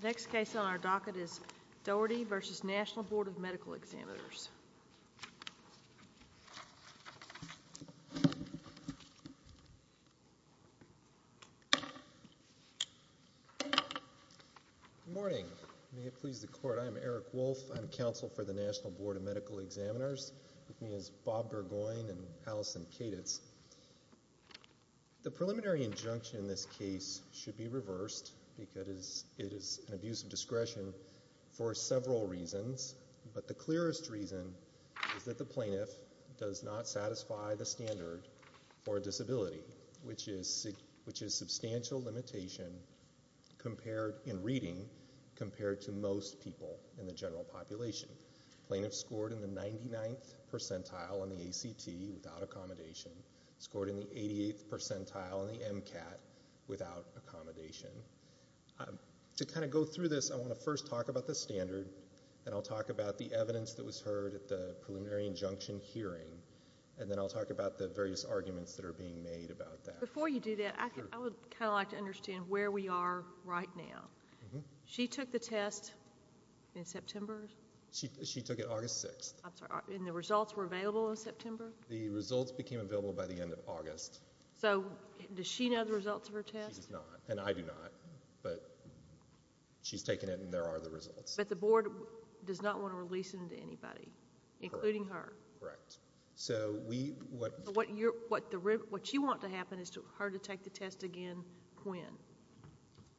The next case on our docket is Doherty v. National Board of Medical Examiners. Good morning. May it please the court, I am Eric Wolf. I am counsel for the National Board of Medical Examiners. With me is Bob Burgoyne and Allison Kaditz. The preliminary injunction in this case should be reversed because it is an abuse of discretion for several reasons, but the clearest reason is that the plaintiff does not satisfy the standard for a disability, which is substantial limitation in reading compared to most people in the general population. The plaintiff scored in the 99th percentile on the ACT without accommodation, scored in the 88th percentile on the MCAT without accommodation. To kind of go through this, I want to first talk about the standard, then I'll talk about the evidence that was heard at the preliminary injunction hearing, and then I'll talk about the various arguments that are being made about that. Before you do that, I would kind of like to understand where we are right now. She took the test in September? She took it August 6th. I'm sorry, and the results were available in September? The results became available by the end of August. So does she know the results of her test? She does not, and I do not, but she's taken it and there are the results. But the board does not want to release it to anybody, including her? Correct. So what you want to happen is for her to take the test again when?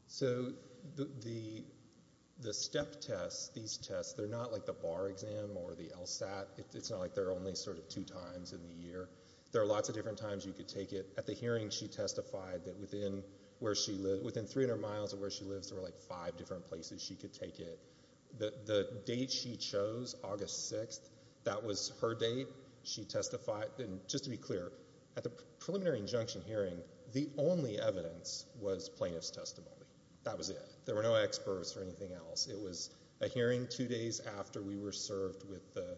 So the step tests, these tests, they're not like the bar exam or the LSAT. It's not like they're only sort of two times in the year. There are lots of different times you could take it. At the hearing, she testified that within 300 miles of where she lives, there were like five different places she could take it. The date she chose, August 6th, that was her date. She testified, and just to be clear, at the preliminary injunction hearing, the only evidence was plaintiff's testimony. That was it. There were no experts or anything else. It was a hearing two days after we were served with the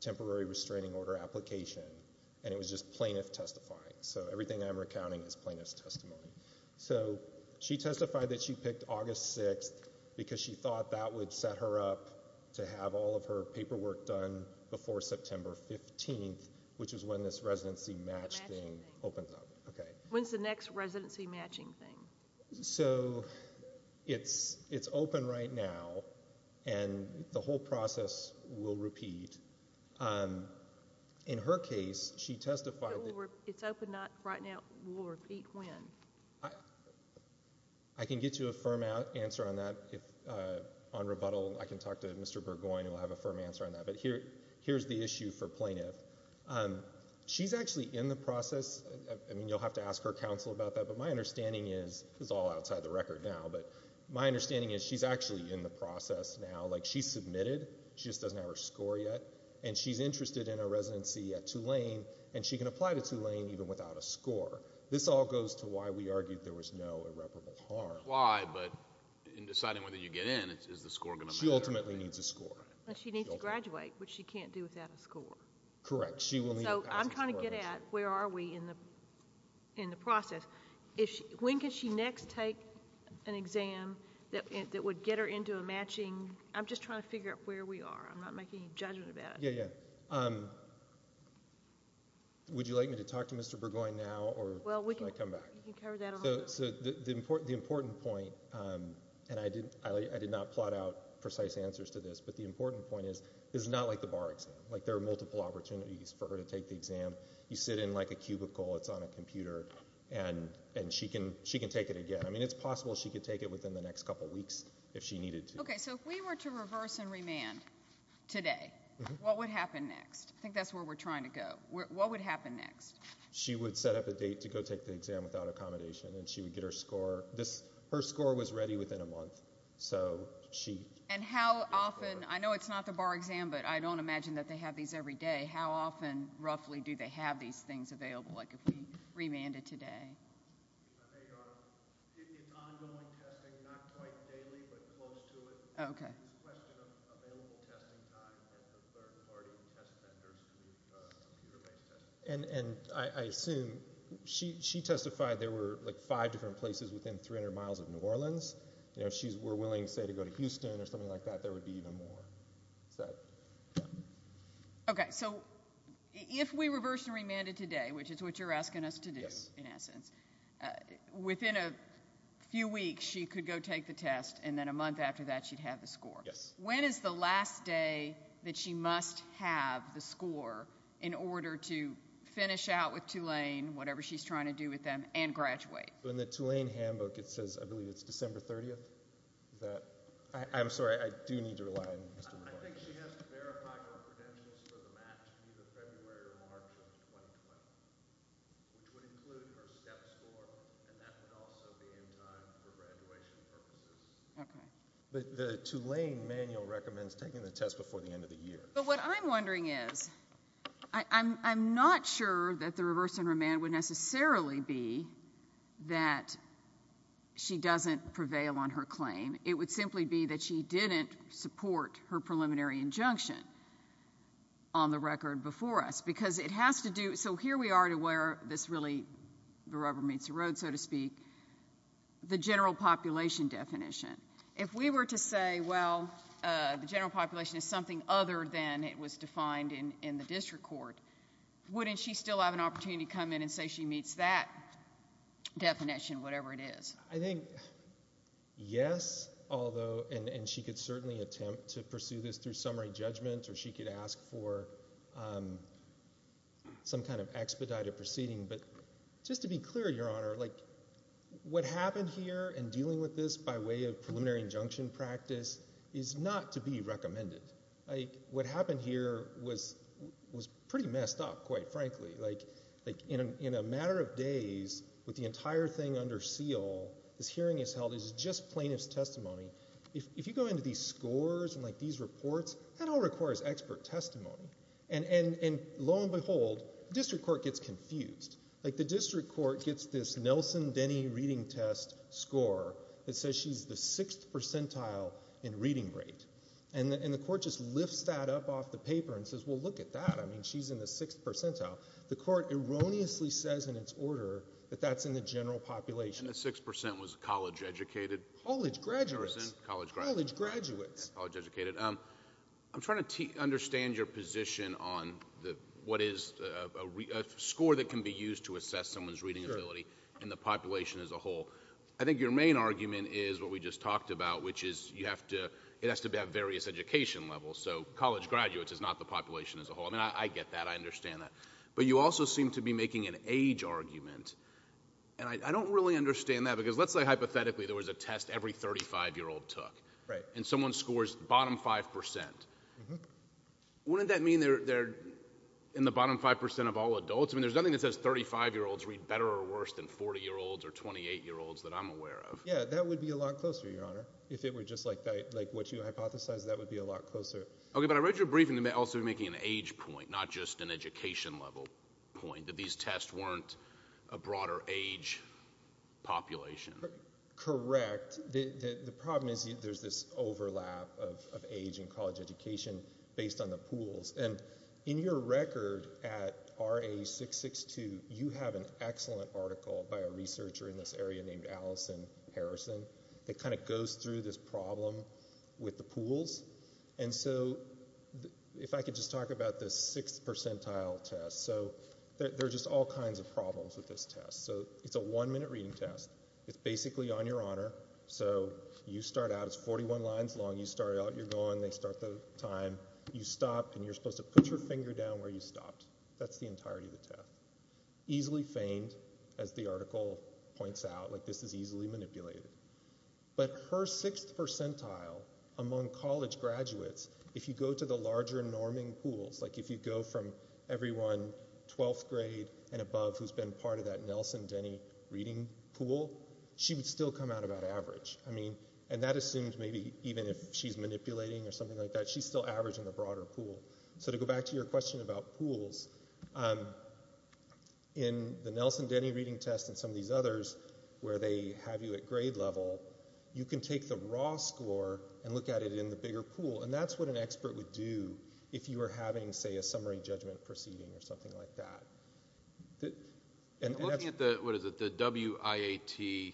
temporary restraining order application, and it was just plaintiff testifying. So everything I'm recounting is plaintiff's testimony. So she testified that she picked August 6th because she thought that would set her up to have all of her paperwork done before September 15th, which is when this residency match thing opens up. Okay. When's the next residency matching thing? So it's open right now, and the whole process will repeat. In her case, she testified that— It's open right now. It will repeat when? I can get you a firm answer on that on rebuttal. I can talk to Mr. Burgoyne, who will have a firm answer on that. But here's the issue for plaintiff. She's actually in the process—I mean, you'll have to ask her counsel about that, but my understanding is—this is all outside the record now, but my understanding is she's actually in the process now. Like, she's submitted. She just doesn't have her score yet, and she's interested in a residency at Tulane, and she can apply to Tulane even without a score. This all goes to why we argued there was no irreparable harm. She can apply, but in deciding whether you get in, is the score going to matter? She ultimately needs a score. She needs to graduate, which she can't do without a score. Correct. So I'm trying to get at where are we in the process. When can she next take an exam that would get her into a matching— I'm just trying to figure out where we are. I'm not making any judgment about it. Yeah, yeah. Would you like me to talk to Mr. Burgoyne now, or should I come back? You can cover that alone. So the important point, and I did not plot out precise answers to this, but the important point is it's not like the bar exam. Like, there are multiple opportunities for her to take the exam. You sit in, like, a cubicle that's on a computer, and she can take it again. I mean, it's possible she could take it within the next couple weeks if she needed to. Okay, so if we were to reverse and remand today, what would happen next? I think that's where we're trying to go. What would happen next? She would set up a date to go take the exam without accommodation, and she would get her score. Her score was ready within a month, so she— And how often—I know it's not the bar exam, but I don't imagine that they have these every day. How often, roughly, do they have these things available, like if we remanded today? It's ongoing testing, not quite daily but close to it. Okay. It's a question of available testing time and third-party test vendors doing computer-based testing. And I assume she testified there were, like, five different places within 300 miles of New Orleans. You know, if she were willing, say, to go to Houston or something like that, there would be even more. Okay, so if we reverse and remanded today, which is what you're asking us to do, in essence, within a few weeks she could go take the test, and then a month after that she'd have the score. Yes. When is the last day that she must have the score in order to finish out with Tulane, whatever she's trying to do with them, and graduate? In the Tulane handbook it says, I believe, it's December 30th. I'm sorry, I do need to rely on Mr. McClary. I think she has to verify her credentials for the match, either February or March of 2020, which would include her STEP score, and that would also be in time for graduation purposes. Okay. But the Tulane manual recommends taking the test before the end of the year. But what I'm wondering is, I'm not sure that the reverse and remand would necessarily be that she doesn't prevail on her claim. It would simply be that she didn't support her preliminary injunction on the record before us. Because it has to do with, so here we are to where this really, the rubber meets the road, so to speak, the general population definition. If we were to say, well, the general population is something other than it was defined in the district court, wouldn't she still have an opportunity to come in and say she meets that definition, whatever it is? I think yes, although, and she could certainly attempt to pursue this through summary judgment, or she could ask for some kind of expedited proceeding. But just to be clear, Your Honor, what happened here in dealing with this by way of preliminary injunction practice is not to be recommended. What happened here was pretty messed up, quite frankly. In a matter of days, with the entire thing under seal, this hearing is held as just plaintiff's testimony. If you go into these scores and these reports, that all requires expert testimony. And lo and behold, district court gets confused. Like the district court gets this Nelson Denny reading test score that says she's the sixth percentile in reading rate. And the court just lifts that up off the paper and says, well, look at that. I mean, she's in the sixth percentile. The court erroneously says in its order that that's in the general population. And the 6% was college educated? College graduates. College graduates. College graduates. College educated. I'm trying to understand your position on what is a score that can be used to assess someone's reading ability in the population as a whole. I think your main argument is what we just talked about, which is it has to be at various education levels. So college graduates is not the population as a whole. I mean, I get that. I understand that. But you also seem to be making an age argument. And I don't really understand that, because let's say hypothetically there was a test every 35-year-old took. Right. And someone scores bottom 5%. Mm-hmm. Wouldn't that mean they're in the bottom 5% of all adults? I mean, there's nothing that says 35-year-olds read better or worse than 40-year-olds or 28-year-olds that I'm aware of. Yeah, that would be a lot closer, Your Honor. If it were just like what you hypothesized, that would be a lot closer. Okay, but I read your briefing that you're also making an age point, not just an education level point, that these tests weren't a broader age population. Correct. The problem is there's this overlap of age and college education based on the pools. And in your record at RA 662, you have an excellent article by a researcher in this area named Allison Harrison that kind of goes through this problem with the pools. And so if I could just talk about this sixth percentile test. So there are just all kinds of problems with this test. So it's a one-minute reading test. It's basically on your honor. So you start out. It's 41 lines long. You start out. You're going. They start the time. You stop, and you're supposed to put your finger down where you stopped. That's the entirety of the test. Easily feigned, as the article points out. Like, this is easily manipulated. But her sixth percentile among college graduates, if you go to the larger norming pools, like if you go from everyone 12th grade and above who's been part of that Nelson Denny reading pool, she would still come out about average. I mean, and that assumes maybe even if she's manipulating or something like that, she's still averaging the broader pool. So to go back to your question about pools, in the Nelson Denny reading test and some of these others where they have you at grade level, you can take the raw score and look at it in the bigger pool. And that's what an expert would do if you were having, say, a summary judgment proceeding or something like that. I'm looking at the, what is it, the WIAT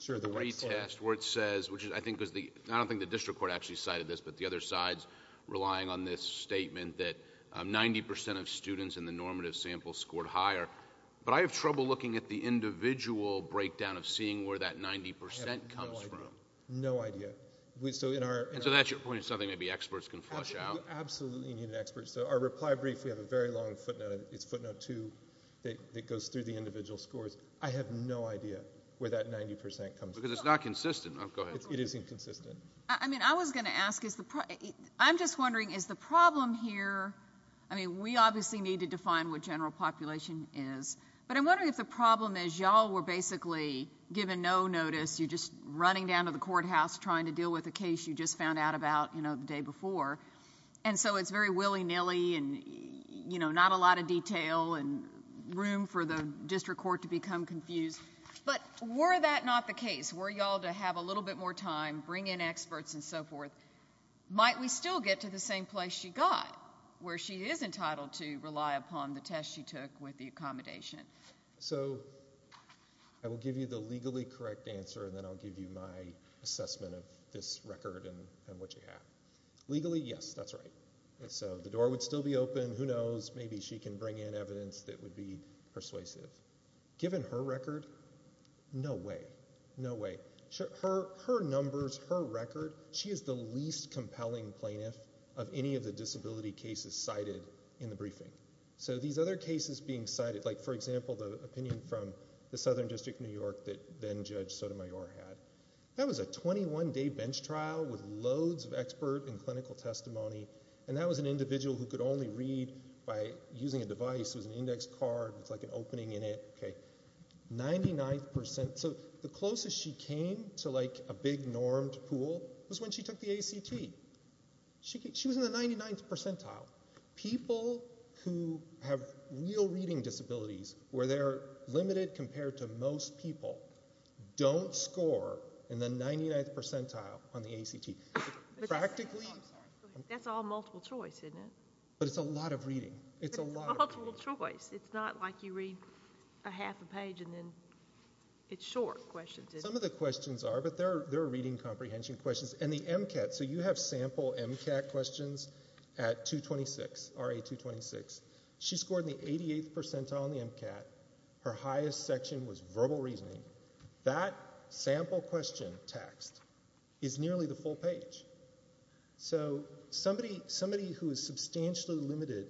retest where it says, which I don't think the district court actually cited this, but the other side's relying on this statement that 90% of students in the normative sample scored higher. But I have trouble looking at the individual breakdown of seeing where that 90% comes from. I have no idea. No idea. And so that's your point, it's something maybe experts can flush out? Absolutely need an expert. So our reply brief, we have a very long footnote. It's footnote two that goes through the individual scores. I have no idea where that 90% comes from. Because it's not consistent. Oh, go ahead. It is inconsistent. I mean, I was going to ask, I'm just wondering, is the problem here, I mean, we obviously need to define what general population is. But I'm wondering if the problem is y'all were basically given no notice, you're just running down to the courthouse trying to deal with a case you just found out about, you know, the day before. And so it's very willy-nilly and, you know, not a lot of detail and room for the district court to become confused. But were that not the case, were y'all to have a little bit more time, bring in experts and so forth, might we still get to the same place she got where she is entitled to rely upon the test she took with the accommodation? So I will give you the legally correct answer and then I'll give you my assessment of this record and what you have. Legally, yes, that's right. So the door would still be open. Who knows? Maybe she can bring in evidence that would be persuasive. Given her record, no way. No way. Her numbers, her record, she is the least compelling plaintiff of any of the disability cases cited in the briefing. So these other cases being cited, like, for example, the opinion from the Southern District of New York that then Judge Sotomayor had, that was a 21-day bench trial with loads of expert and clinical testimony, and that was an individual who could only read by using a device. It was an index card with, like, an opening in it. Okay, 99th percent. So the closest she came to, like, a big normed pool was when she took the ACT. She was in the 99th percentile. People who have real reading disabilities where they're limited compared to most people don't score in the 99th percentile on the ACT. Practically. That's all multiple choice, isn't it? But it's a lot of reading. It's a lot of reading. Multiple choice. It's not like you read a half a page and then it's short questions. Some of the questions are, but they're reading comprehension questions. And the MCAT, so you have sample MCAT questions at 226, RA 226. She scored in the 88th percentile on the MCAT. Her highest section was verbal reasoning. That sample question text is nearly the full page. So somebody who is substantially limited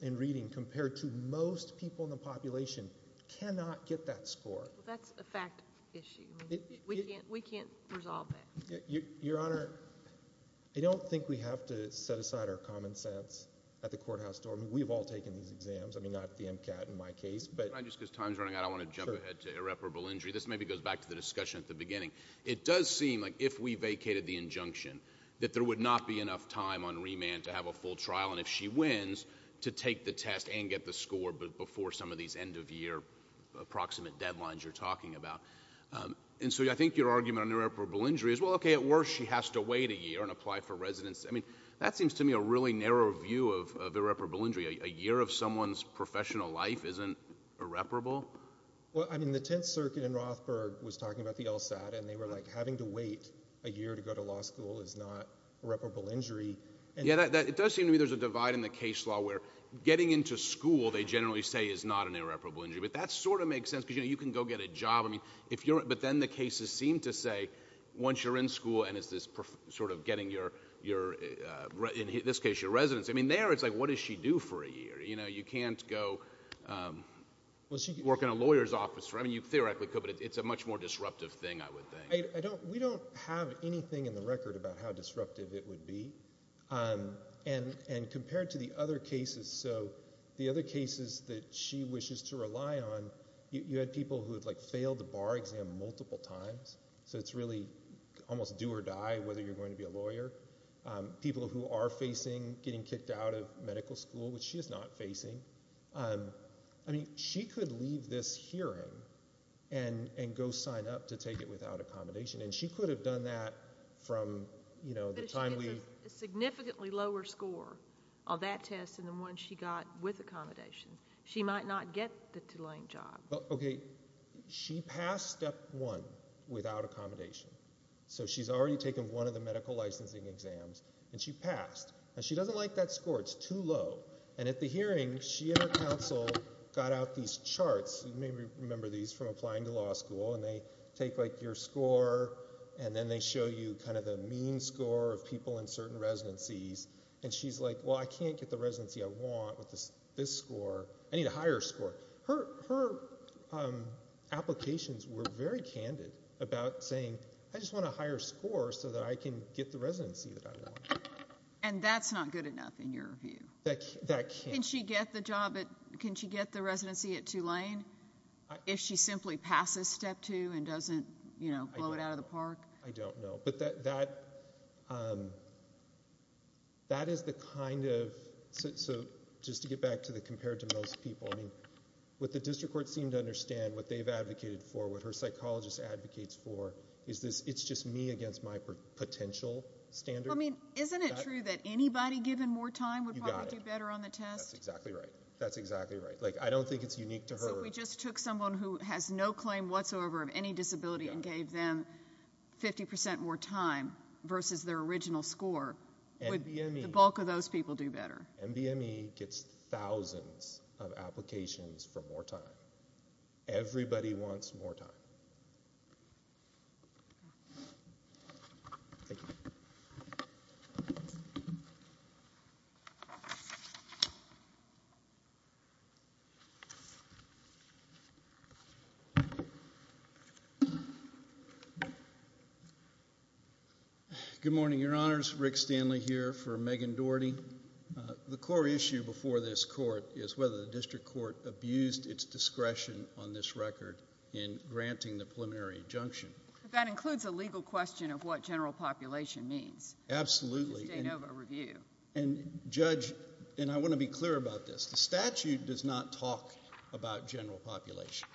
in reading compared to most people in the population cannot get that score. That's a fact issue. We can't resolve that. Your Honor, I don't think we have to set aside our common sense at the courthouse door. I mean, we've all taken these exams. I mean, not the MCAT in my case. Can I just, because time is running out, I want to jump ahead to irreparable injury. This maybe goes back to the discussion at the beginning. It does seem like if we vacated the injunction that there would not be enough time on remand to have a full trial. And if she wins, to take the test and get the score before some of these end-of-year approximate deadlines you're talking about. And so I think your argument on irreparable injury is, well, okay, at worst she has to wait a year and apply for residency. I mean, that seems to me a really narrow view of irreparable injury. A year of someone's professional life isn't irreparable? Well, I mean, the Tenth Circuit in Rothberg was talking about the LSAT. And they were like, having to wait a year to go to law school is not irreparable injury. Yeah, it does seem to me there's a divide in the case law where getting into school, they generally say, is not an irreparable injury. But that sort of makes sense because, you know, you can go get a job. But then the cases seem to say, once you're in school and it's this sort of getting your, in this case, your residency. I mean, there it's like, what does she do for a year? You know, you can't go work in a lawyer's office. I mean, you theoretically could, but it's a much more disruptive thing, I would think. We don't have anything in the record about how disruptive it would be. And compared to the other cases, so the other cases that she wishes to rely on, you had people who had, like, failed the bar exam multiple times. So it's really almost do or die whether you're going to be a lawyer. People who are facing getting kicked out of medical school, which she is not facing. I mean, she could leave this hearing and go sign up to take it without accommodation. And she could have done that from, you know, the timely. But if she gets a significantly lower score on that test than the one she got with accommodation, she might not get the Tulane job. Okay. She passed Step 1 without accommodation. So she's already taken one of the medical licensing exams, and she passed. And she doesn't like that score. It's too low. And at the hearing, she and her counsel got out these charts. You may remember these from applying to law school. And they take, like, your score, and then they show you kind of the mean score of people in certain residencies. And she's like, well, I can't get the residency I want with this score. I need a higher score. Her applications were very candid about saying, I just want a higher score so that I can get the residency that I want. And that's not good enough in your view? That can't. Can she get the job at ‑‑ can she get the residency at Tulane if she simply passes Step 2 and doesn't, you know, blow it out of the park? I don't know. But that is the kind of ‑‑ so just to get back to the compared to most people. I mean, what the district court seemed to understand, what they've advocated for, what her psychologist advocates for is this it's just me against my potential standard. Well, I mean, isn't it true that anybody given more time would probably do better on the test? You got it. That's exactly right. That's exactly right. Like, I don't think it's unique to her. So if we just took someone who has no claim whatsoever of any disability and gave them 50% more time versus their original score, would the bulk of those people do better? MBME gets thousands of applications for more time. Everybody wants more time. Thank you. Good morning, Your Honors. Rick Stanley here for Megan Doherty. The core issue before this court is whether the district court abused its discretion on this record in granting the preliminary injunction. That includes a legal question of what general population means. Absolutely. In the Stanova review. And, Judge, and I want to be clear about this. The statute does not talk about general population.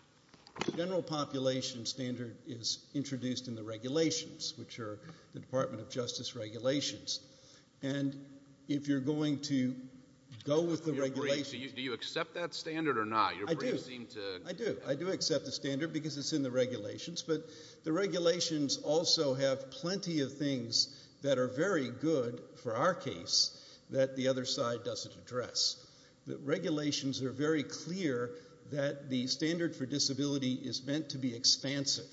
The general population standard is introduced in the regulations, which are the Department of Justice regulations. And if you're going to go with the regulations. Do you accept that standard or not? I do. I do. I do accept the standard because it's in the regulations. But the regulations also have plenty of things that are very good for our case that the other side doesn't address. The regulations are very clear that the standard for disability is meant to be expansive,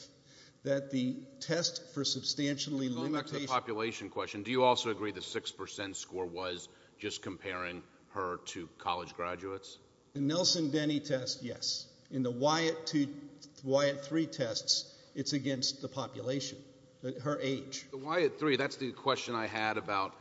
that the test for substantially limited. Going back to the population question, do you also agree the 6% score was just comparing her to college graduates? The Nelson-Denny test, yes. In the Wyatt-3 tests, it's against the population, her age. The Wyatt-3, that's the question I had about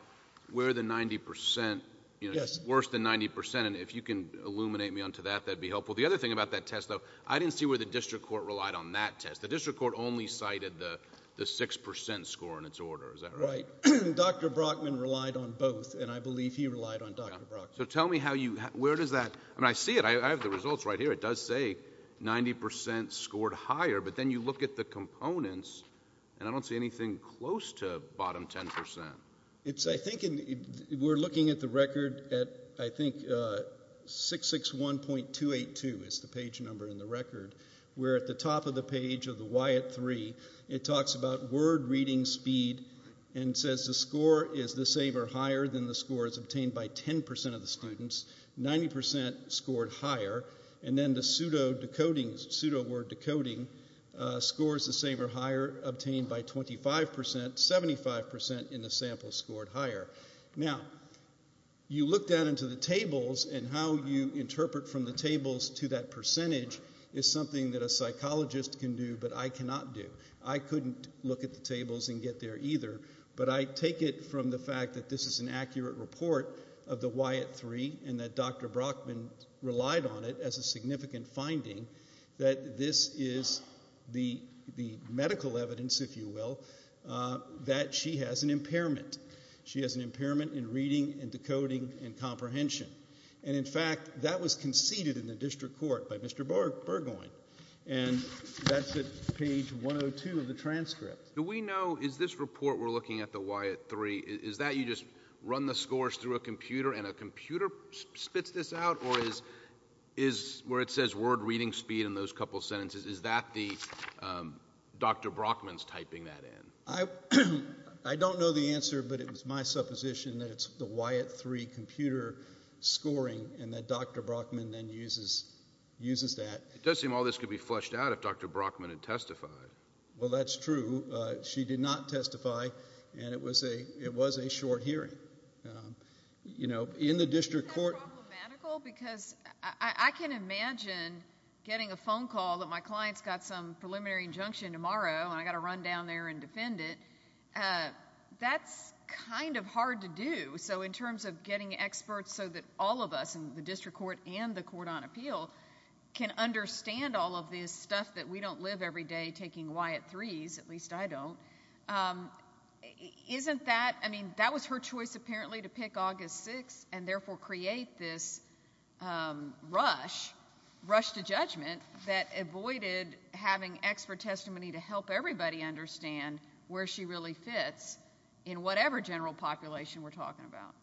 where the 90%, you know, worse than 90%. And if you can illuminate me onto that, that would be helpful. The other thing about that test, though, I didn't see where the district court relied on that test. The district court only cited the 6% score in its order. Is that right? Right. Dr. Brockman relied on both, and I believe he relied on Dr. Brockman. So tell me how you – where does that – I mean, I see it. I have the results right here. It does say 90% scored higher, but then you look at the components, and I don't see anything close to bottom 10%. I think we're looking at the record at, I think, 661.282 is the page number in the record. We're at the top of the page of the Wyatt-3. It talks about word reading speed and says the score is the saver higher than the scores obtained by 10% of the students. 90% scored higher. And then the pseudoword decoding scores the saver higher, obtained by 25%. 75% in the sample scored higher. Now, you look down into the tables and how you interpret from the tables to that percentage is something that a psychologist can do but I cannot do. I couldn't look at the tables and get there either, but I take it from the fact that this is an accurate report of the Wyatt-3 and that Dr. Brockman relied on it as a significant finding that this is the medical evidence, if you will, that she has an impairment. She has an impairment in reading and decoding and comprehension. And in fact, that was conceded in the district court by Mr. Burgoyne, and that's at page 102 of the transcript. Do we know, is this report we're looking at the Wyatt-3, is that you just run the scores through a computer and a computer spits this out? Or is where it says word reading speed in those couple sentences, is that the, Dr. Brockman's typing that in? I don't know the answer, but it was my supposition that it's the Wyatt-3 computer scoring and that Dr. Brockman then uses that. It does seem all this could be fleshed out if Dr. Brockman had testified. Well, that's true. She did not testify and it was a short hearing. You know, in the district court. Because I can imagine getting a phone call that my client's got some preliminary injunction tomorrow and I've got to run down there and defend it. That's kind of hard to do. So in terms of getting experts so that all of us in the district court and the court on appeal can understand all of this stuff that we don't live every day taking Wyatt-3s, at least I don't. Isn't that, I mean, that was her choice apparently to pick August 6th and therefore create this rush, rush to judgment, that avoided having expert testimony to help everybody understand where she really fits in whatever general population we're talking about.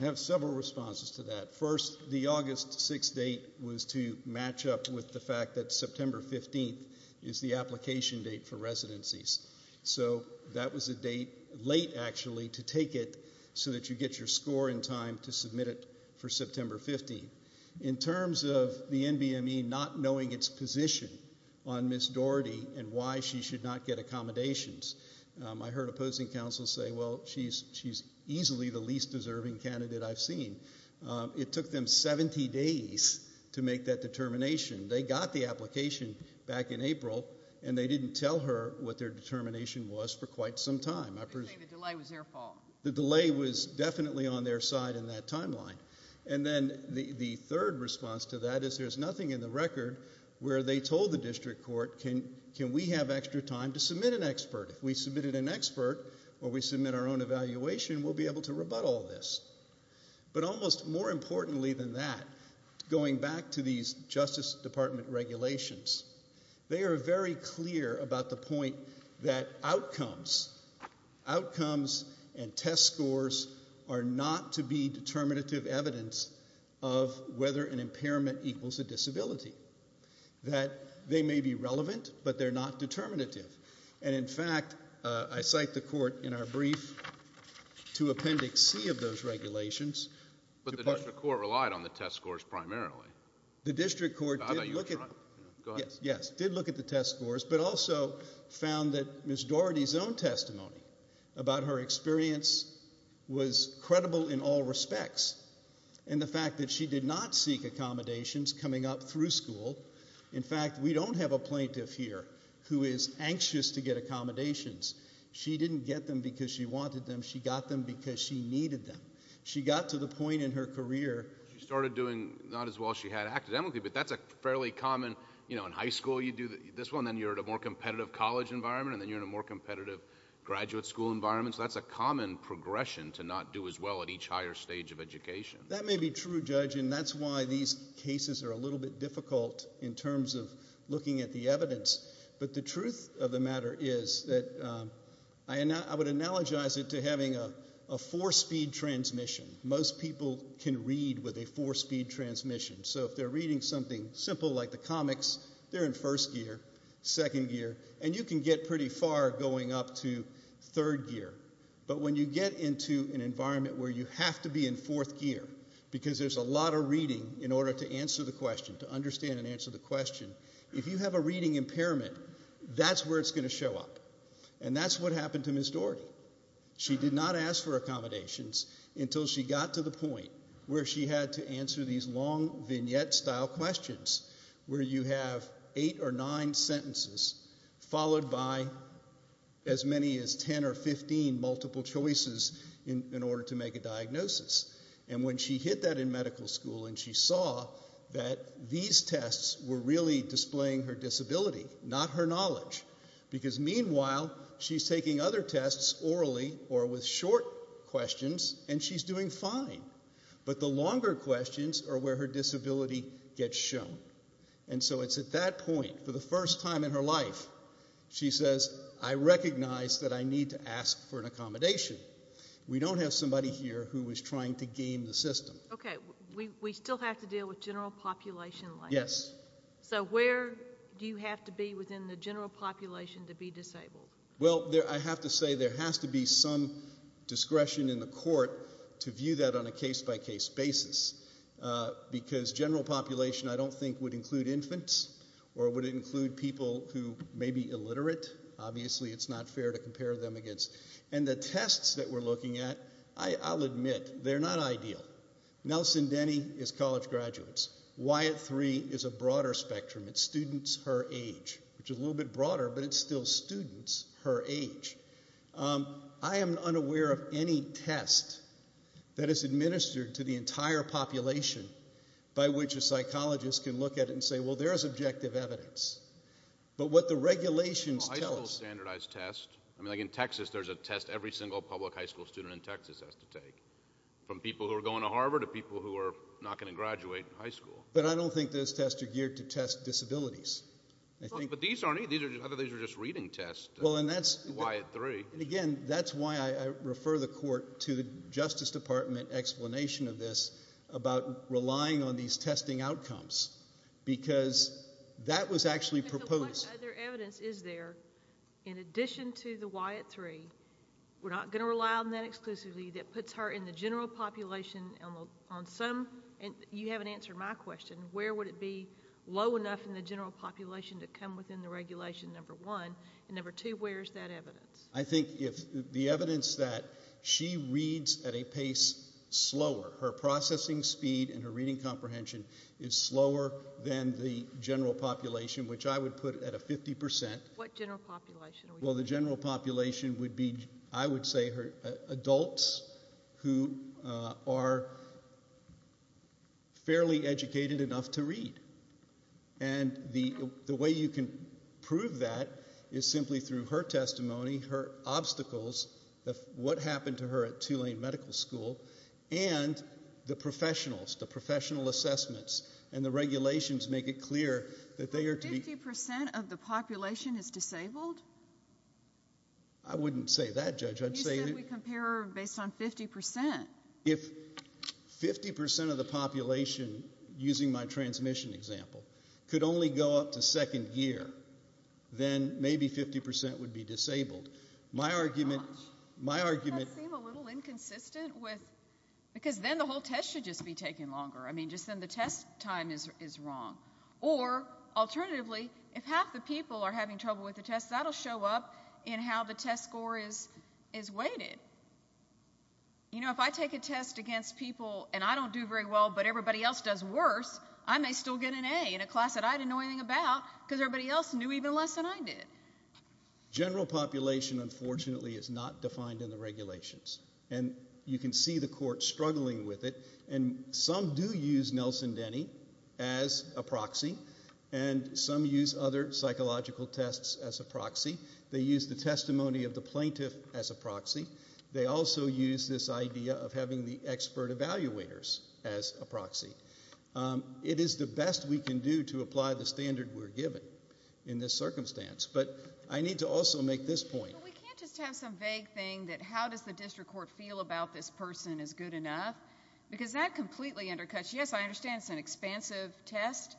I have several responses to that. First, the August 6th date was to match up with the fact that September 15th is the application date for residencies. So that was a date late actually to take it so that you get your score in time to submit it for September 15th. In terms of the NBME not knowing its position on Ms. Doherty and why she should not get accommodations, I heard opposing counsel say, well, she's easily the least deserving candidate I've seen. It took them 70 days to make that determination. They got the application back in April and they didn't tell her what their determination was for quite some time. They say the delay was their fault. The delay was definitely on their side in that timeline. And then the third response to that is there's nothing in the record where they told the district court, can we have extra time to submit an expert? If we submitted an expert or we submit our own evaluation, we'll be able to rebut all this. But almost more importantly than that, going back to these Justice Department regulations, they are very clear about the point that outcomes and test scores are not to be determinative evidence of whether an impairment equals a disability. That they may be relevant, but they're not determinative. And in fact, I cite the court in our brief to Appendix C of those regulations. But the district court relied on the test scores primarily. The district court did look at the test scores, but also found that Ms. Doherty's own testimony about her experience was credible in all respects. And the fact that she did not seek accommodations coming up through school, in fact, we don't have a plaintiff here who is anxious to get accommodations. She didn't get them because she wanted them. She got them because she needed them. She got to the point in her career. She started doing not as well as she had academically, but that's a fairly common, you know, in high school you do this well, and then you're at a more competitive college environment, and then you're in a more competitive graduate school environment. So that's a common progression to not do as well at each higher stage of education. That may be true, Judge, and that's why these cases are a little bit difficult in terms of looking at the evidence. But the truth of the matter is that I would analogize it to having a four-speed transmission. Most people can read with a four-speed transmission. So if they're reading something simple like the comics, they're in first gear, second gear, and you can get pretty far going up to third gear. But when you get into an environment where you have to be in fourth gear because there's a lot of reading in order to answer the question, to understand and answer the question, if you have a reading impairment, that's where it's going to show up. And that's what happened to Ms. Dougherty. She did not ask for accommodations until she got to the point where she had to answer these long vignette-style questions where you have eight or nine sentences followed by as many as 10 or 15 multiple choices in order to make a diagnosis. And when she hit that in medical school and she saw that these tests were really displaying her disability, not her knowledge, because meanwhile she's taking other tests orally or with short questions, and she's doing fine. But the longer questions are where her disability gets shown. And so it's at that point, for the first time in her life, she says, I recognize that I need to ask for an accommodation. We don't have somebody here who is trying to game the system. Okay. We still have to deal with general population length. Yes. So where do you have to be within the general population to be disabled? Well, I have to say there has to be some discretion in the court to view that on a case-by-case basis, because general population I don't think would include infants or would it include people who may be illiterate. Obviously it's not fair to compare them against. And the tests that we're looking at, I'll admit, they're not ideal. Nelson Denny is college graduates. Wyatt Three is a broader spectrum. It's students her age, which is a little bit broader, but it's still students her age. I am unaware of any test that is administered to the entire population by which a psychologist can look at it and say, well, there is objective evidence. But what the regulations tell us – Well, high school standardized tests. I mean, like in Texas there's a test every single public high school student in Texas has to take, from people who are going to Harvard to people who are not going to graduate high school. But I don't think those tests are geared to test disabilities. But these aren't either. I thought these were just reading tests. Well, and that's – Wyatt Three. And, again, that's why I refer the court to the Justice Department explanation of this about relying on these testing outcomes, because that was actually proposed. But what other evidence is there in addition to the Wyatt Three, we're not going to rely on that exclusively, that puts her in the general population on some – you haven't answered my question. Where would it be low enough in the general population to come within the regulation, number one? And, number two, where is that evidence? I think the evidence that she reads at a pace slower, her processing speed and her reading comprehension is slower than the general population, which I would put at a 50%. What general population are we talking about? Well, the general population would be, I would say, adults who are fairly educated enough to read. And the way you can prove that is simply through her testimony, her obstacles, what happened to her at Tulane Medical School, and the professionals, the professional assessments, and the regulations make it clear that they are to be – I wouldn't say that, Judge. You said we compare based on 50%. If 50% of the population, using my transmission example, could only go up to second gear, then maybe 50% would be disabled. My argument – My gosh. My argument – Doesn't that seem a little inconsistent with – because then the whole test should just be taking longer. I mean, just then the test time is wrong. Or, alternatively, if half the people are having trouble with the test, that will show up in how the test score is weighted. You know, if I take a test against people and I don't do very well but everybody else does worse, I may still get an A in a class that I didn't know anything about because everybody else knew even less than I did. General population, unfortunately, is not defined in the regulations. And you can see the court struggling with it. And some do use Nelson Denny as a proxy, and some use other psychological tests as a proxy. They use the testimony of the plaintiff as a proxy. They also use this idea of having the expert evaluators as a proxy. It is the best we can do to apply the standard we're given in this circumstance. But I need to also make this point. We can't just have some vague thing that how does the district court feel about this person is good enough because that completely undercuts. Yes, I understand it's an expansive test,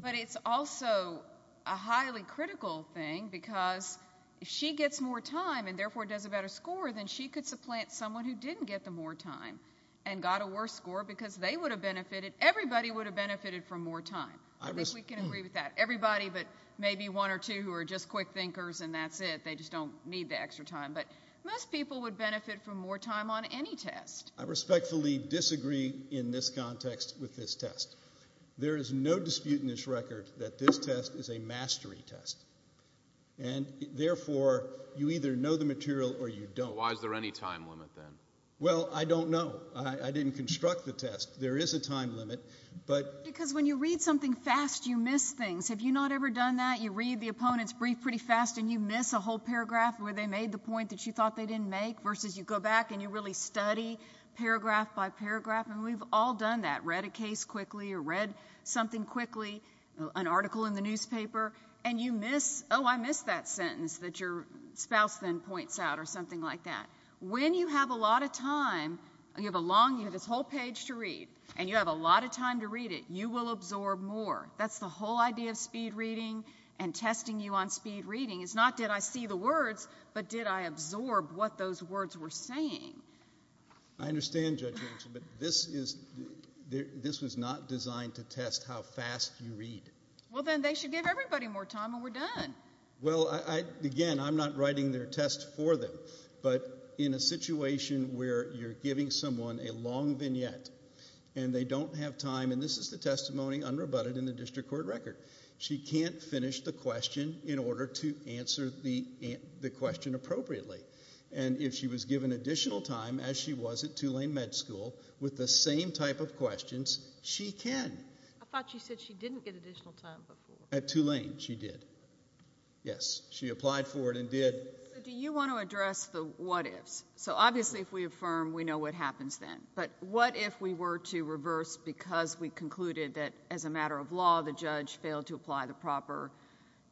but it's also a highly critical thing because if she gets more time and therefore does a better score, then she could supplant someone who didn't get the more time and got a worse score because they would have benefited. Everybody would have benefited from more time. I think we can agree with that. Everybody but maybe one or two who are just quick thinkers and that's it. They just don't need the extra time. But most people would benefit from more time on any test. I respectfully disagree in this context with this test. There is no dispute in this record that this test is a mastery test, and therefore you either know the material or you don't. Why is there any time limit then? Well, I don't know. I didn't construct the test. There is a time limit. Because when you read something fast, you miss things. Have you not ever done that? You read the opponent's brief pretty fast and you miss a whole paragraph where they made the point that you thought they didn't make versus you go back and you really study paragraph by paragraph, and we've all done that. Read a case quickly or read something quickly, an article in the newspaper, and you miss, oh, I missed that sentence that your spouse then points out or something like that. When you have a lot of time, you have this whole page to read, and you have a lot of time to read it, you will absorb more. That's the whole idea of speed reading and testing you on speed reading. It's not did I see the words, but did I absorb what those words were saying. I understand, Judge Rachel, but this was not designed to test how fast you read. Well, then they should give everybody more time and we're done. Well, again, I'm not writing their test for them, but in a situation where you're giving someone a long vignette and they don't have time, and this is the testimony unrebutted in the district court record. She can't finish the question in order to answer the question appropriately, and if she was given additional time, as she was at Tulane Med School, with the same type of questions, she can. I thought you said she didn't get additional time before. At Tulane, she did. Yes, she applied for it and did. Do you want to address the what ifs? So obviously if we affirm, we know what happens then, but what if we were to reverse because we concluded that as a matter of law the judge failed to apply the proper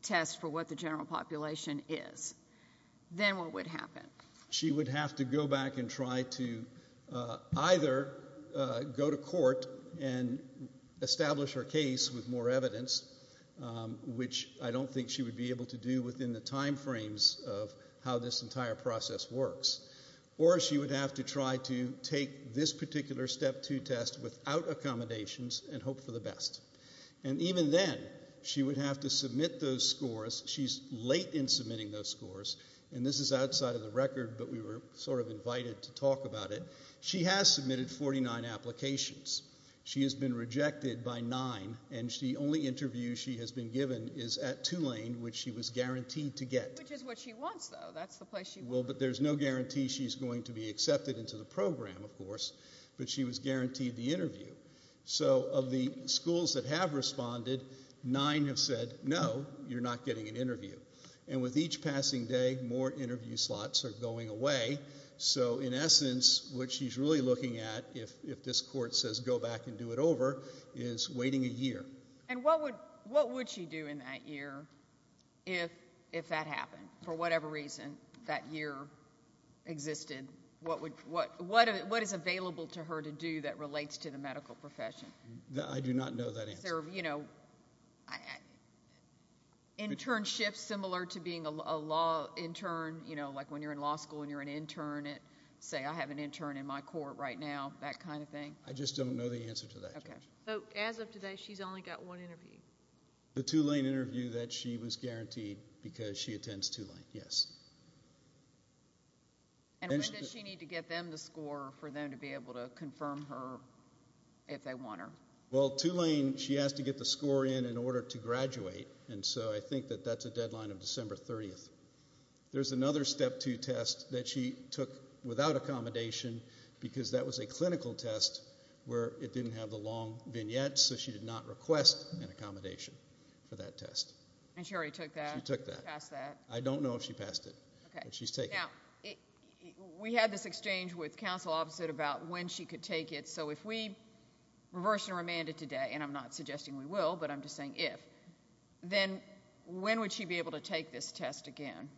test for what the general population is? Then what would happen? She would have to go back and try to either go to court and establish her case with more evidence, which I don't think she would be able to do within the time frames of how this entire process works, or she would have to try to take this particular step two test without accommodations and hope for the best. And even then, she would have to submit those scores. She's late in submitting those scores, and this is outside of the record, but we were sort of invited to talk about it. She has submitted 49 applications. She has been rejected by nine, and the only interview she has been given is at Tulane, which she was guaranteed to get. Which is what she wants, though. That's the place she wants to go. Well, but there's no guarantee she's going to be accepted into the program, of course, but she was guaranteed the interview. So of the schools that have responded, nine have said, no, you're not getting an interview. And with each passing day, more interview slots are going away. So in essence, what she's really looking at, if this court says go back and do it over, is waiting a year. And what would she do in that year if that happened? For whatever reason that year existed, what is available to her to do that relates to the medical profession? I do not know that answer. Internships similar to being a law intern, like when you're in law school and you're an intern, say I have an intern in my court right now, that kind of thing. I just don't know the answer to that. So as of today, she's only got one interview. The Tulane interview that she was guaranteed because she attends Tulane, yes. And when does she need to get them the score for them to be able to confirm her if they want her? Well, Tulane, she has to get the score in in order to graduate, and so I think that that's a deadline of December 30th. There's another step two test that she took without accommodation because that was a clinical test where it didn't have the long vignette, so she did not request an accommodation for that test. And she already took that? She took that. She passed that? I don't know if she passed it, but she's taken it. Okay. Now, we had this exchange with counsel opposite about when she could take it, so if we reverse and remand it today, and I'm not suggesting we will, but I'm just saying if, then when would she be able to take this test again?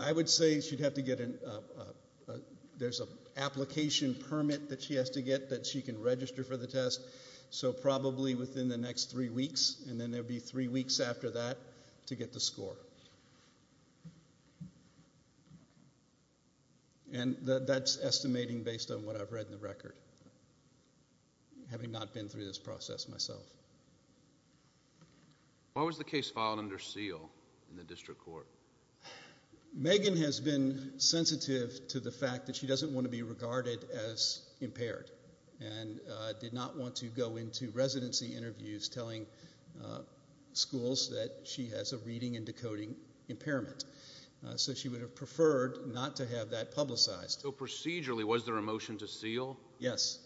I would say she'd have to get an application permit that she has to get that she can register for the test, so probably within the next three weeks, and then there would be three weeks after that to get the score. And that's estimating based on what I've read in the record, having not been through this process myself. Why was the case filed under seal in the district court? Megan has been sensitive to the fact that she doesn't want to be regarded as impaired and did not want to go into residency interviews telling schools that she has a reading and decoding impairment, so she would have preferred not to have that publicized. So procedurally, was there a motion to seal? Yes.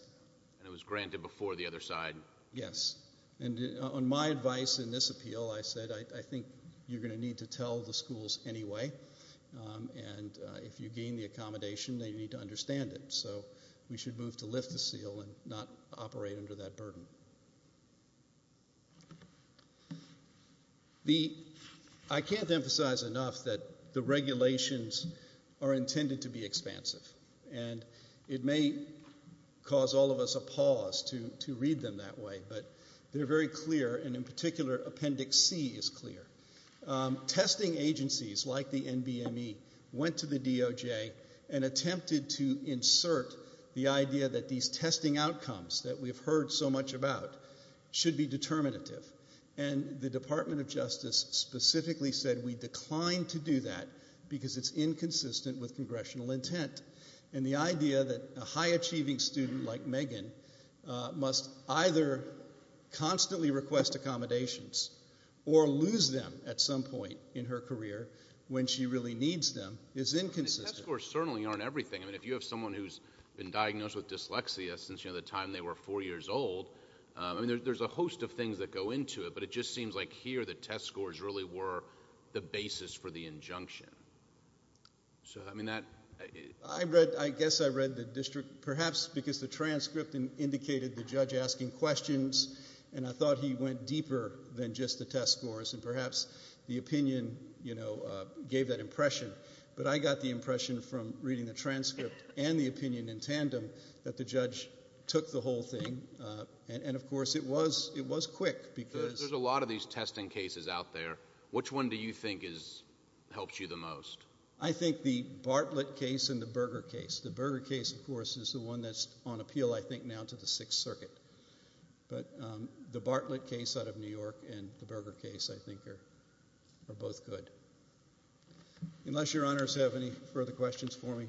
And it was granted before the other side? Yes. And on my advice in this appeal, I said, I think you're going to need to tell the schools anyway, and if you gain the accommodation, then you need to understand it. So we should move to lift the seal and not operate under that burden. I can't emphasize enough that the regulations are intended to be expansive, and it may cause all of us a pause to read them that way, but they're very clear, and in particular, Appendix C is clear. Testing agencies like the NBME went to the DOJ and attempted to insert the idea that these testing outcomes that we've heard so much about should be determinative, and the Department of Justice specifically said we declined to do that because it's inconsistent with congressional intent. And the idea that a high-achieving student like Megan must either constantly request accommodations or lose them at some point in her career when she really needs them is inconsistent. Test scores certainly aren't everything. If you have someone who's been diagnosed with dyslexia since the time they were 4 years old, there's a host of things that go into it, but it just seems like here the test scores really were the basis for the injunction. So, I mean, that... I guess I read the district perhaps because the transcript indicated the judge asking questions, and I thought he went deeper than just the test scores, and perhaps the opinion, you know, gave that impression. But I got the impression from reading the transcript and the opinion in tandem that the judge took the whole thing, and, of course, it was quick because... There's a lot of these testing cases out there. Which one do you think helps you the most? I think the Bartlett case and the Berger case. The Berger case, of course, is the one that's on appeal, I think, now to the Sixth Circuit. But the Bartlett case out of New York and the Berger case, I think, are both good. Unless your honors have any further questions for me.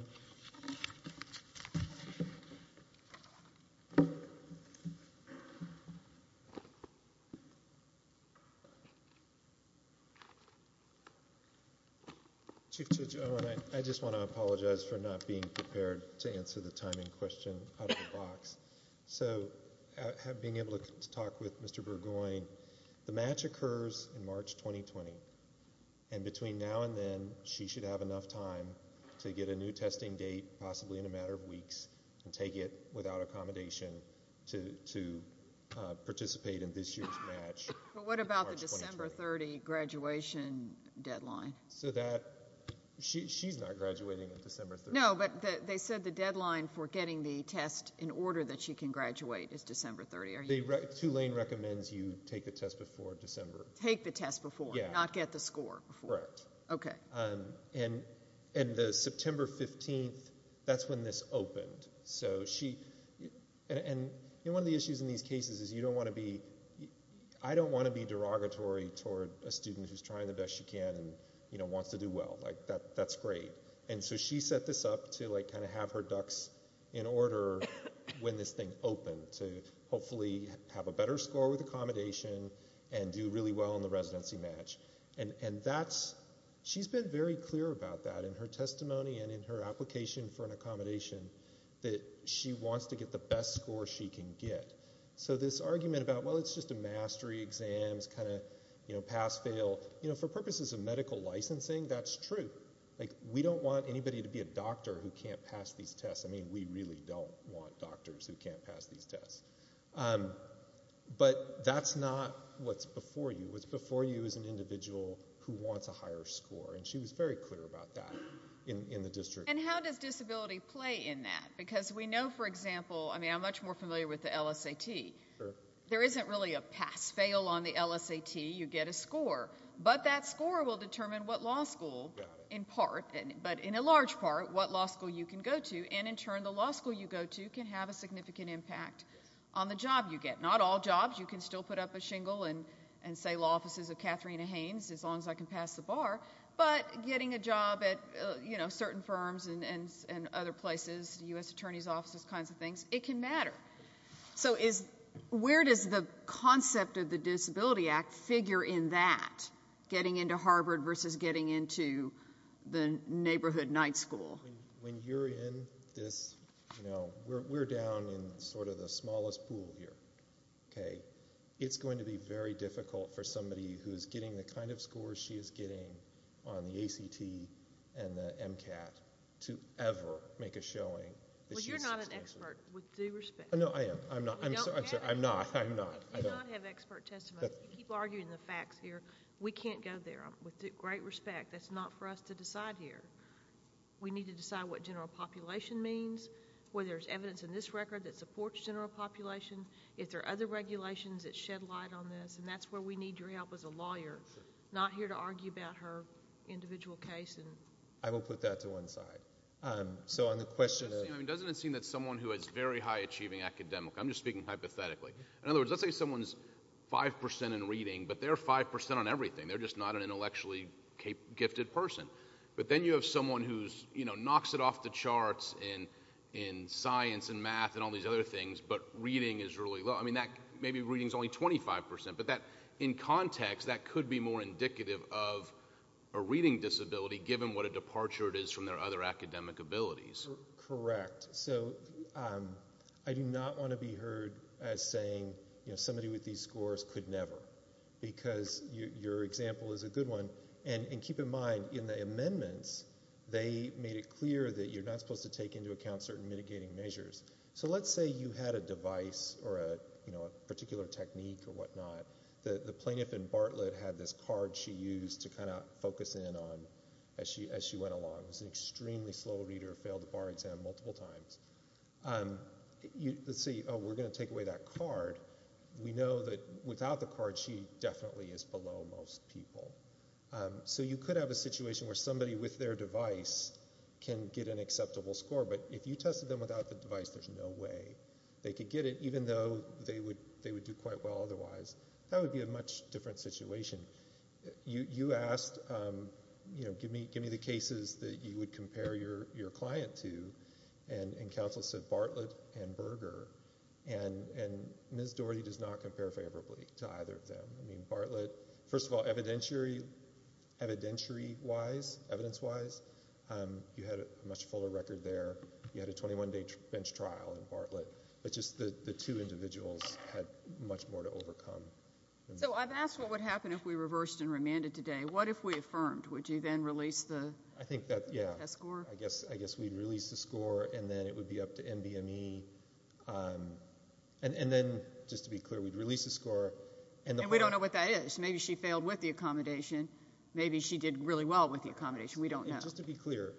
Chief Judge Owen, I just want to apologize for not being prepared to answer the timing question out of the box. So, being able to talk with Mr. Burgoyne, the match occurs in March 2020, and between now and then she should have enough time to get a new testing date, possibly in a matter of weeks, and take it without accommodation to participate in this year's match. But what about the December 30 graduation deadline? She's not graduating on December 30. No, but they said the deadline for getting the test in order that she can graduate is December 30. Tulane recommends you take the test before December. Take the test before, not get the score before. Correct. Okay. And the September 15th, that's when this opened. And one of the issues in these cases is you don't want to be – I don't want to be derogatory toward a student who's trying the best she can and wants to do well. That's great. And so she set this up to kind of have her ducks in order when this thing opened to hopefully have a better score with accommodation and do really well in the residency match. And that's – she's been very clear about that in her testimony and in her application for an accommodation that she wants to get the best score she can get. So this argument about, well, it's just a mastery exam, it's kind of pass-fail, for purposes of medical licensing, that's true. We don't want anybody to be a doctor who can't pass these tests. I mean, we really don't want doctors who can't pass these tests. But that's not what's before you. What's before you is an individual who wants a higher score, and she was very clear about that in the district. And how does disability play in that? Because we know, for example – I mean, I'm much more familiar with the LSAT. There isn't really a pass-fail on the LSAT. You get a score. But that score will determine what law school, in part, but in a large part, what law school you can go to. And in turn, the law school you go to can have a significant impact on the job you get. Not all jobs. You can still put up a shingle and say law offices of Katharina Haynes, as long as I can pass the bar. But getting a job at certain firms and other places, U.S. attorney's offices, kinds of things, it can matter. So where does the concept of the Disability Act figure in that, getting into Harvard versus getting into the neighborhood night school? When you're in this, you know, we're down in sort of the smallest pool here. It's going to be very difficult for somebody who's getting the kind of scores she is getting on the ACT and the MCAT to ever make a showing. Well, you're not an expert, with due respect. No, I am. I'm not. I'm sorry. I'm sorry. I'm not. I'm not. You do not have expert testimony. You keep arguing the facts here. We can't go there. With great respect, that's not for us to decide here. We need to decide what general population means, whether there's evidence in this record that supports general population, if there are other regulations that shed light on this, and that's where we need your help as a lawyer, not here to argue about her individual case. I will put that to one side. So on the question of— Doesn't it seem that someone who is very high-achieving academically— I'm just speaking hypothetically. In other words, let's say someone's 5% in reading, but they're 5% on everything. They're just not an intellectually gifted person. But then you have someone who knocks it off the charts in science and math and all these other things, but reading is really low. Maybe reading is only 25%, but in context, that could be more indicative of a reading disability, given what a departure it is from their other academic abilities. Correct. So I do not want to be heard as saying somebody with these scores could never, because your example is a good one. And keep in mind, in the amendments, they made it clear that you're not supposed to take into account certain mitigating measures. So let's say you had a device or a particular technique or whatnot. The plaintiff in Bartlett had this card she used to kind of focus in on as she went along. It was an extremely slow reader, failed the bar exam multiple times. Let's say, oh, we're going to take away that card. We know that without the card, she definitely is below most people. So you could have a situation where somebody with their device can get an acceptable score, but if you tested them without the device, there's no way they could get it, even though they would do quite well otherwise. That would be a much different situation. You asked, you know, give me the cases that you would compare your client to, and counsel said Bartlett and Berger, and Ms. Dougherty does not compare favorably to either of them. I mean, Bartlett, first of all, evidentiary-wise, evidence-wise, you had a much fuller record there. You had a 21-day bench trial in Bartlett, but just the two individuals had much more to overcome. So I've asked what would happen if we reversed and remanded today. What if we affirmed? Would you then release the test score? I think that, yeah, I guess we'd release the score, and then it would be up to NBME. And then, just to be clear, we'd release the score. And we don't know what that is. Maybe she failed with the accommodation. Maybe she did really well with the accommodation. We don't know. Just to be clear,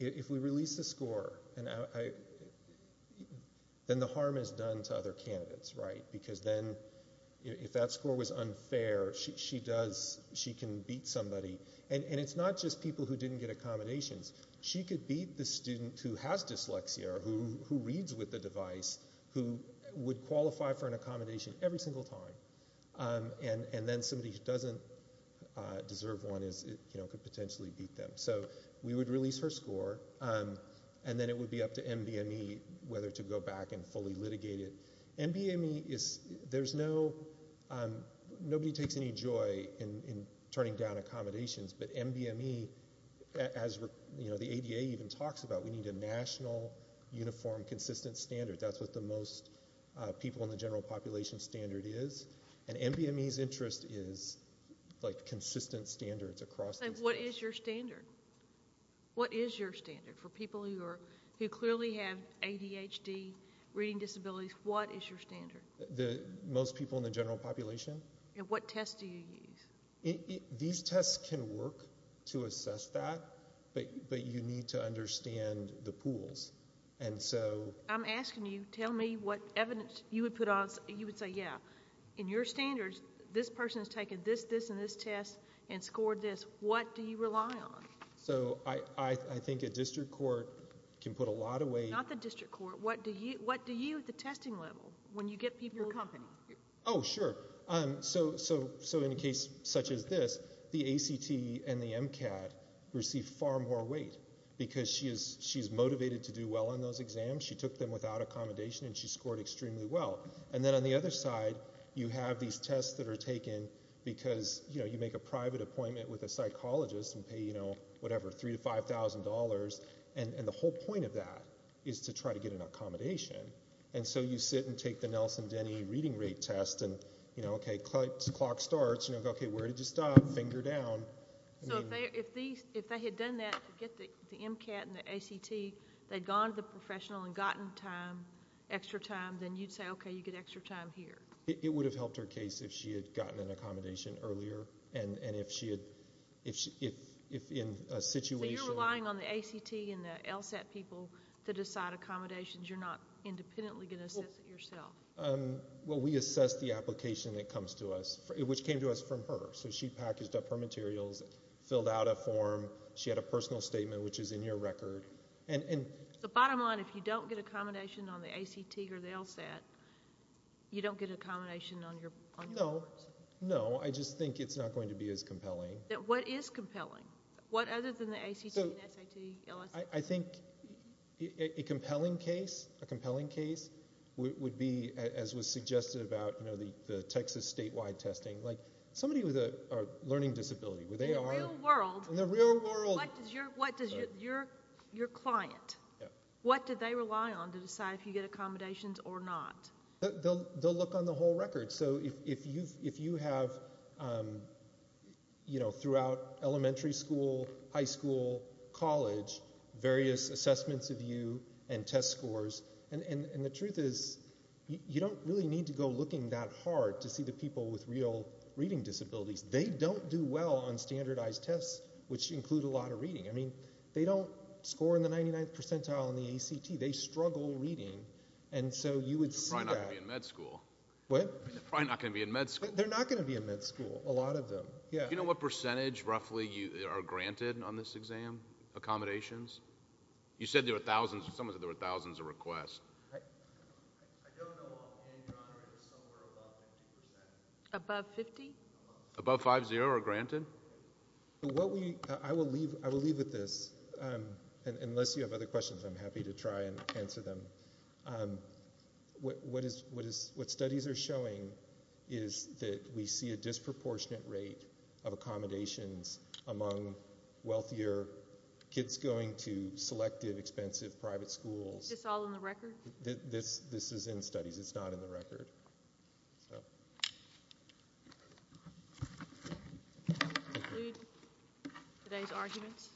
if we release the score, then the harm is done to other candidates, right? Because then if that score was unfair, she can beat somebody. And it's not just people who didn't get accommodations. She could beat the student who has dyslexia or who reads with the device, who would qualify for an accommodation every single time. And then somebody who doesn't deserve one could potentially beat them. So we would release her score, and then it would be up to NBME whether to go back and fully litigate it. NBME is, there's no, nobody takes any joy in turning down accommodations. But NBME, as the ADA even talks about, we need a national, uniform, consistent standard. That's what the most people in the general population standard is. And NBME's interest is, like, consistent standards across disciplines. What is your standard? What is your standard? For people who clearly have ADHD, reading disabilities, what is your standard? Most people in the general population. And what tests do you use? These tests can work to assess that, but you need to understand the pools. I'm asking you, tell me what evidence you would put on, you would say, yeah, in your standards, this person has taken this, this, and this test and scored this. What do you rely on? So I think a district court can put a lot of weight. Not the district court. What do you at the testing level, when you get people? Your company. Oh, sure. So in a case such as this, the ACT and the MCAT receive far more weight, because she's motivated to do well on those exams. She took them without accommodation, and she scored extremely well. And then on the other side, you have these tests that are taken because, you know, you make a private appointment with a psychologist and pay, you know, whatever, $3,000 to $5,000, and the whole point of that is to try to get an accommodation. And so you sit and take the Nelson-Denny reading rate test, and, you know, okay, clock starts, and you go, okay, where did you stop? Finger down. So if they had done that to get the MCAT and the ACT, they'd gone to the professional and gotten time, extra time, then you'd say, okay, you get extra time here. It would have helped her case if she had gotten an accommodation earlier, and if she had, if in a situation. So you're relying on the ACT and the LSAT people to decide accommodations. You're not independently going to assess it yourself. Well, we assess the application that comes to us, which came to us from her. So she packaged up her materials, filled out a form. She had a personal statement, which is in your record. The bottom line, if you don't get accommodation on the ACT or the LSAT, you don't get accommodation on your records. No, I just think it's not going to be as compelling. What is compelling? What other than the ACT and SAT, LSAT? I think a compelling case would be, as was suggested about the Texas statewide testing, like somebody with a learning disability. In the real world. In the real world. What does your client, what do they rely on to decide if you get accommodations or not? They'll look on the whole record. So if you have, you know, throughout elementary school, high school, college, various assessments of you and test scores, and the truth is you don't really need to go looking that hard to see the people with real reading disabilities. They don't do well on standardized tests, which include a lot of reading. I mean, they don't score in the 99th percentile in the ACT. They struggle reading, and so you would see that. They're probably not going to be in med school. What? They're probably not going to be in med school. They're not going to be in med school, a lot of them. Do you know what percentage, roughly, are granted on this exam, accommodations? You said there were thousands. Someone said there were thousands of requests. I don't know offhand. Your Honor, it was somewhere above 50%. Above 50? Above 50 are granted? I will leave with this. Unless you have other questions, I'm happy to try and answer them. What studies are showing is that we see a disproportionate rate of accommodations among wealthier kids going to selective, expensive private schools. Is this all in the record? This is in studies. It's not in the record. So. Do we conclude today's arguments?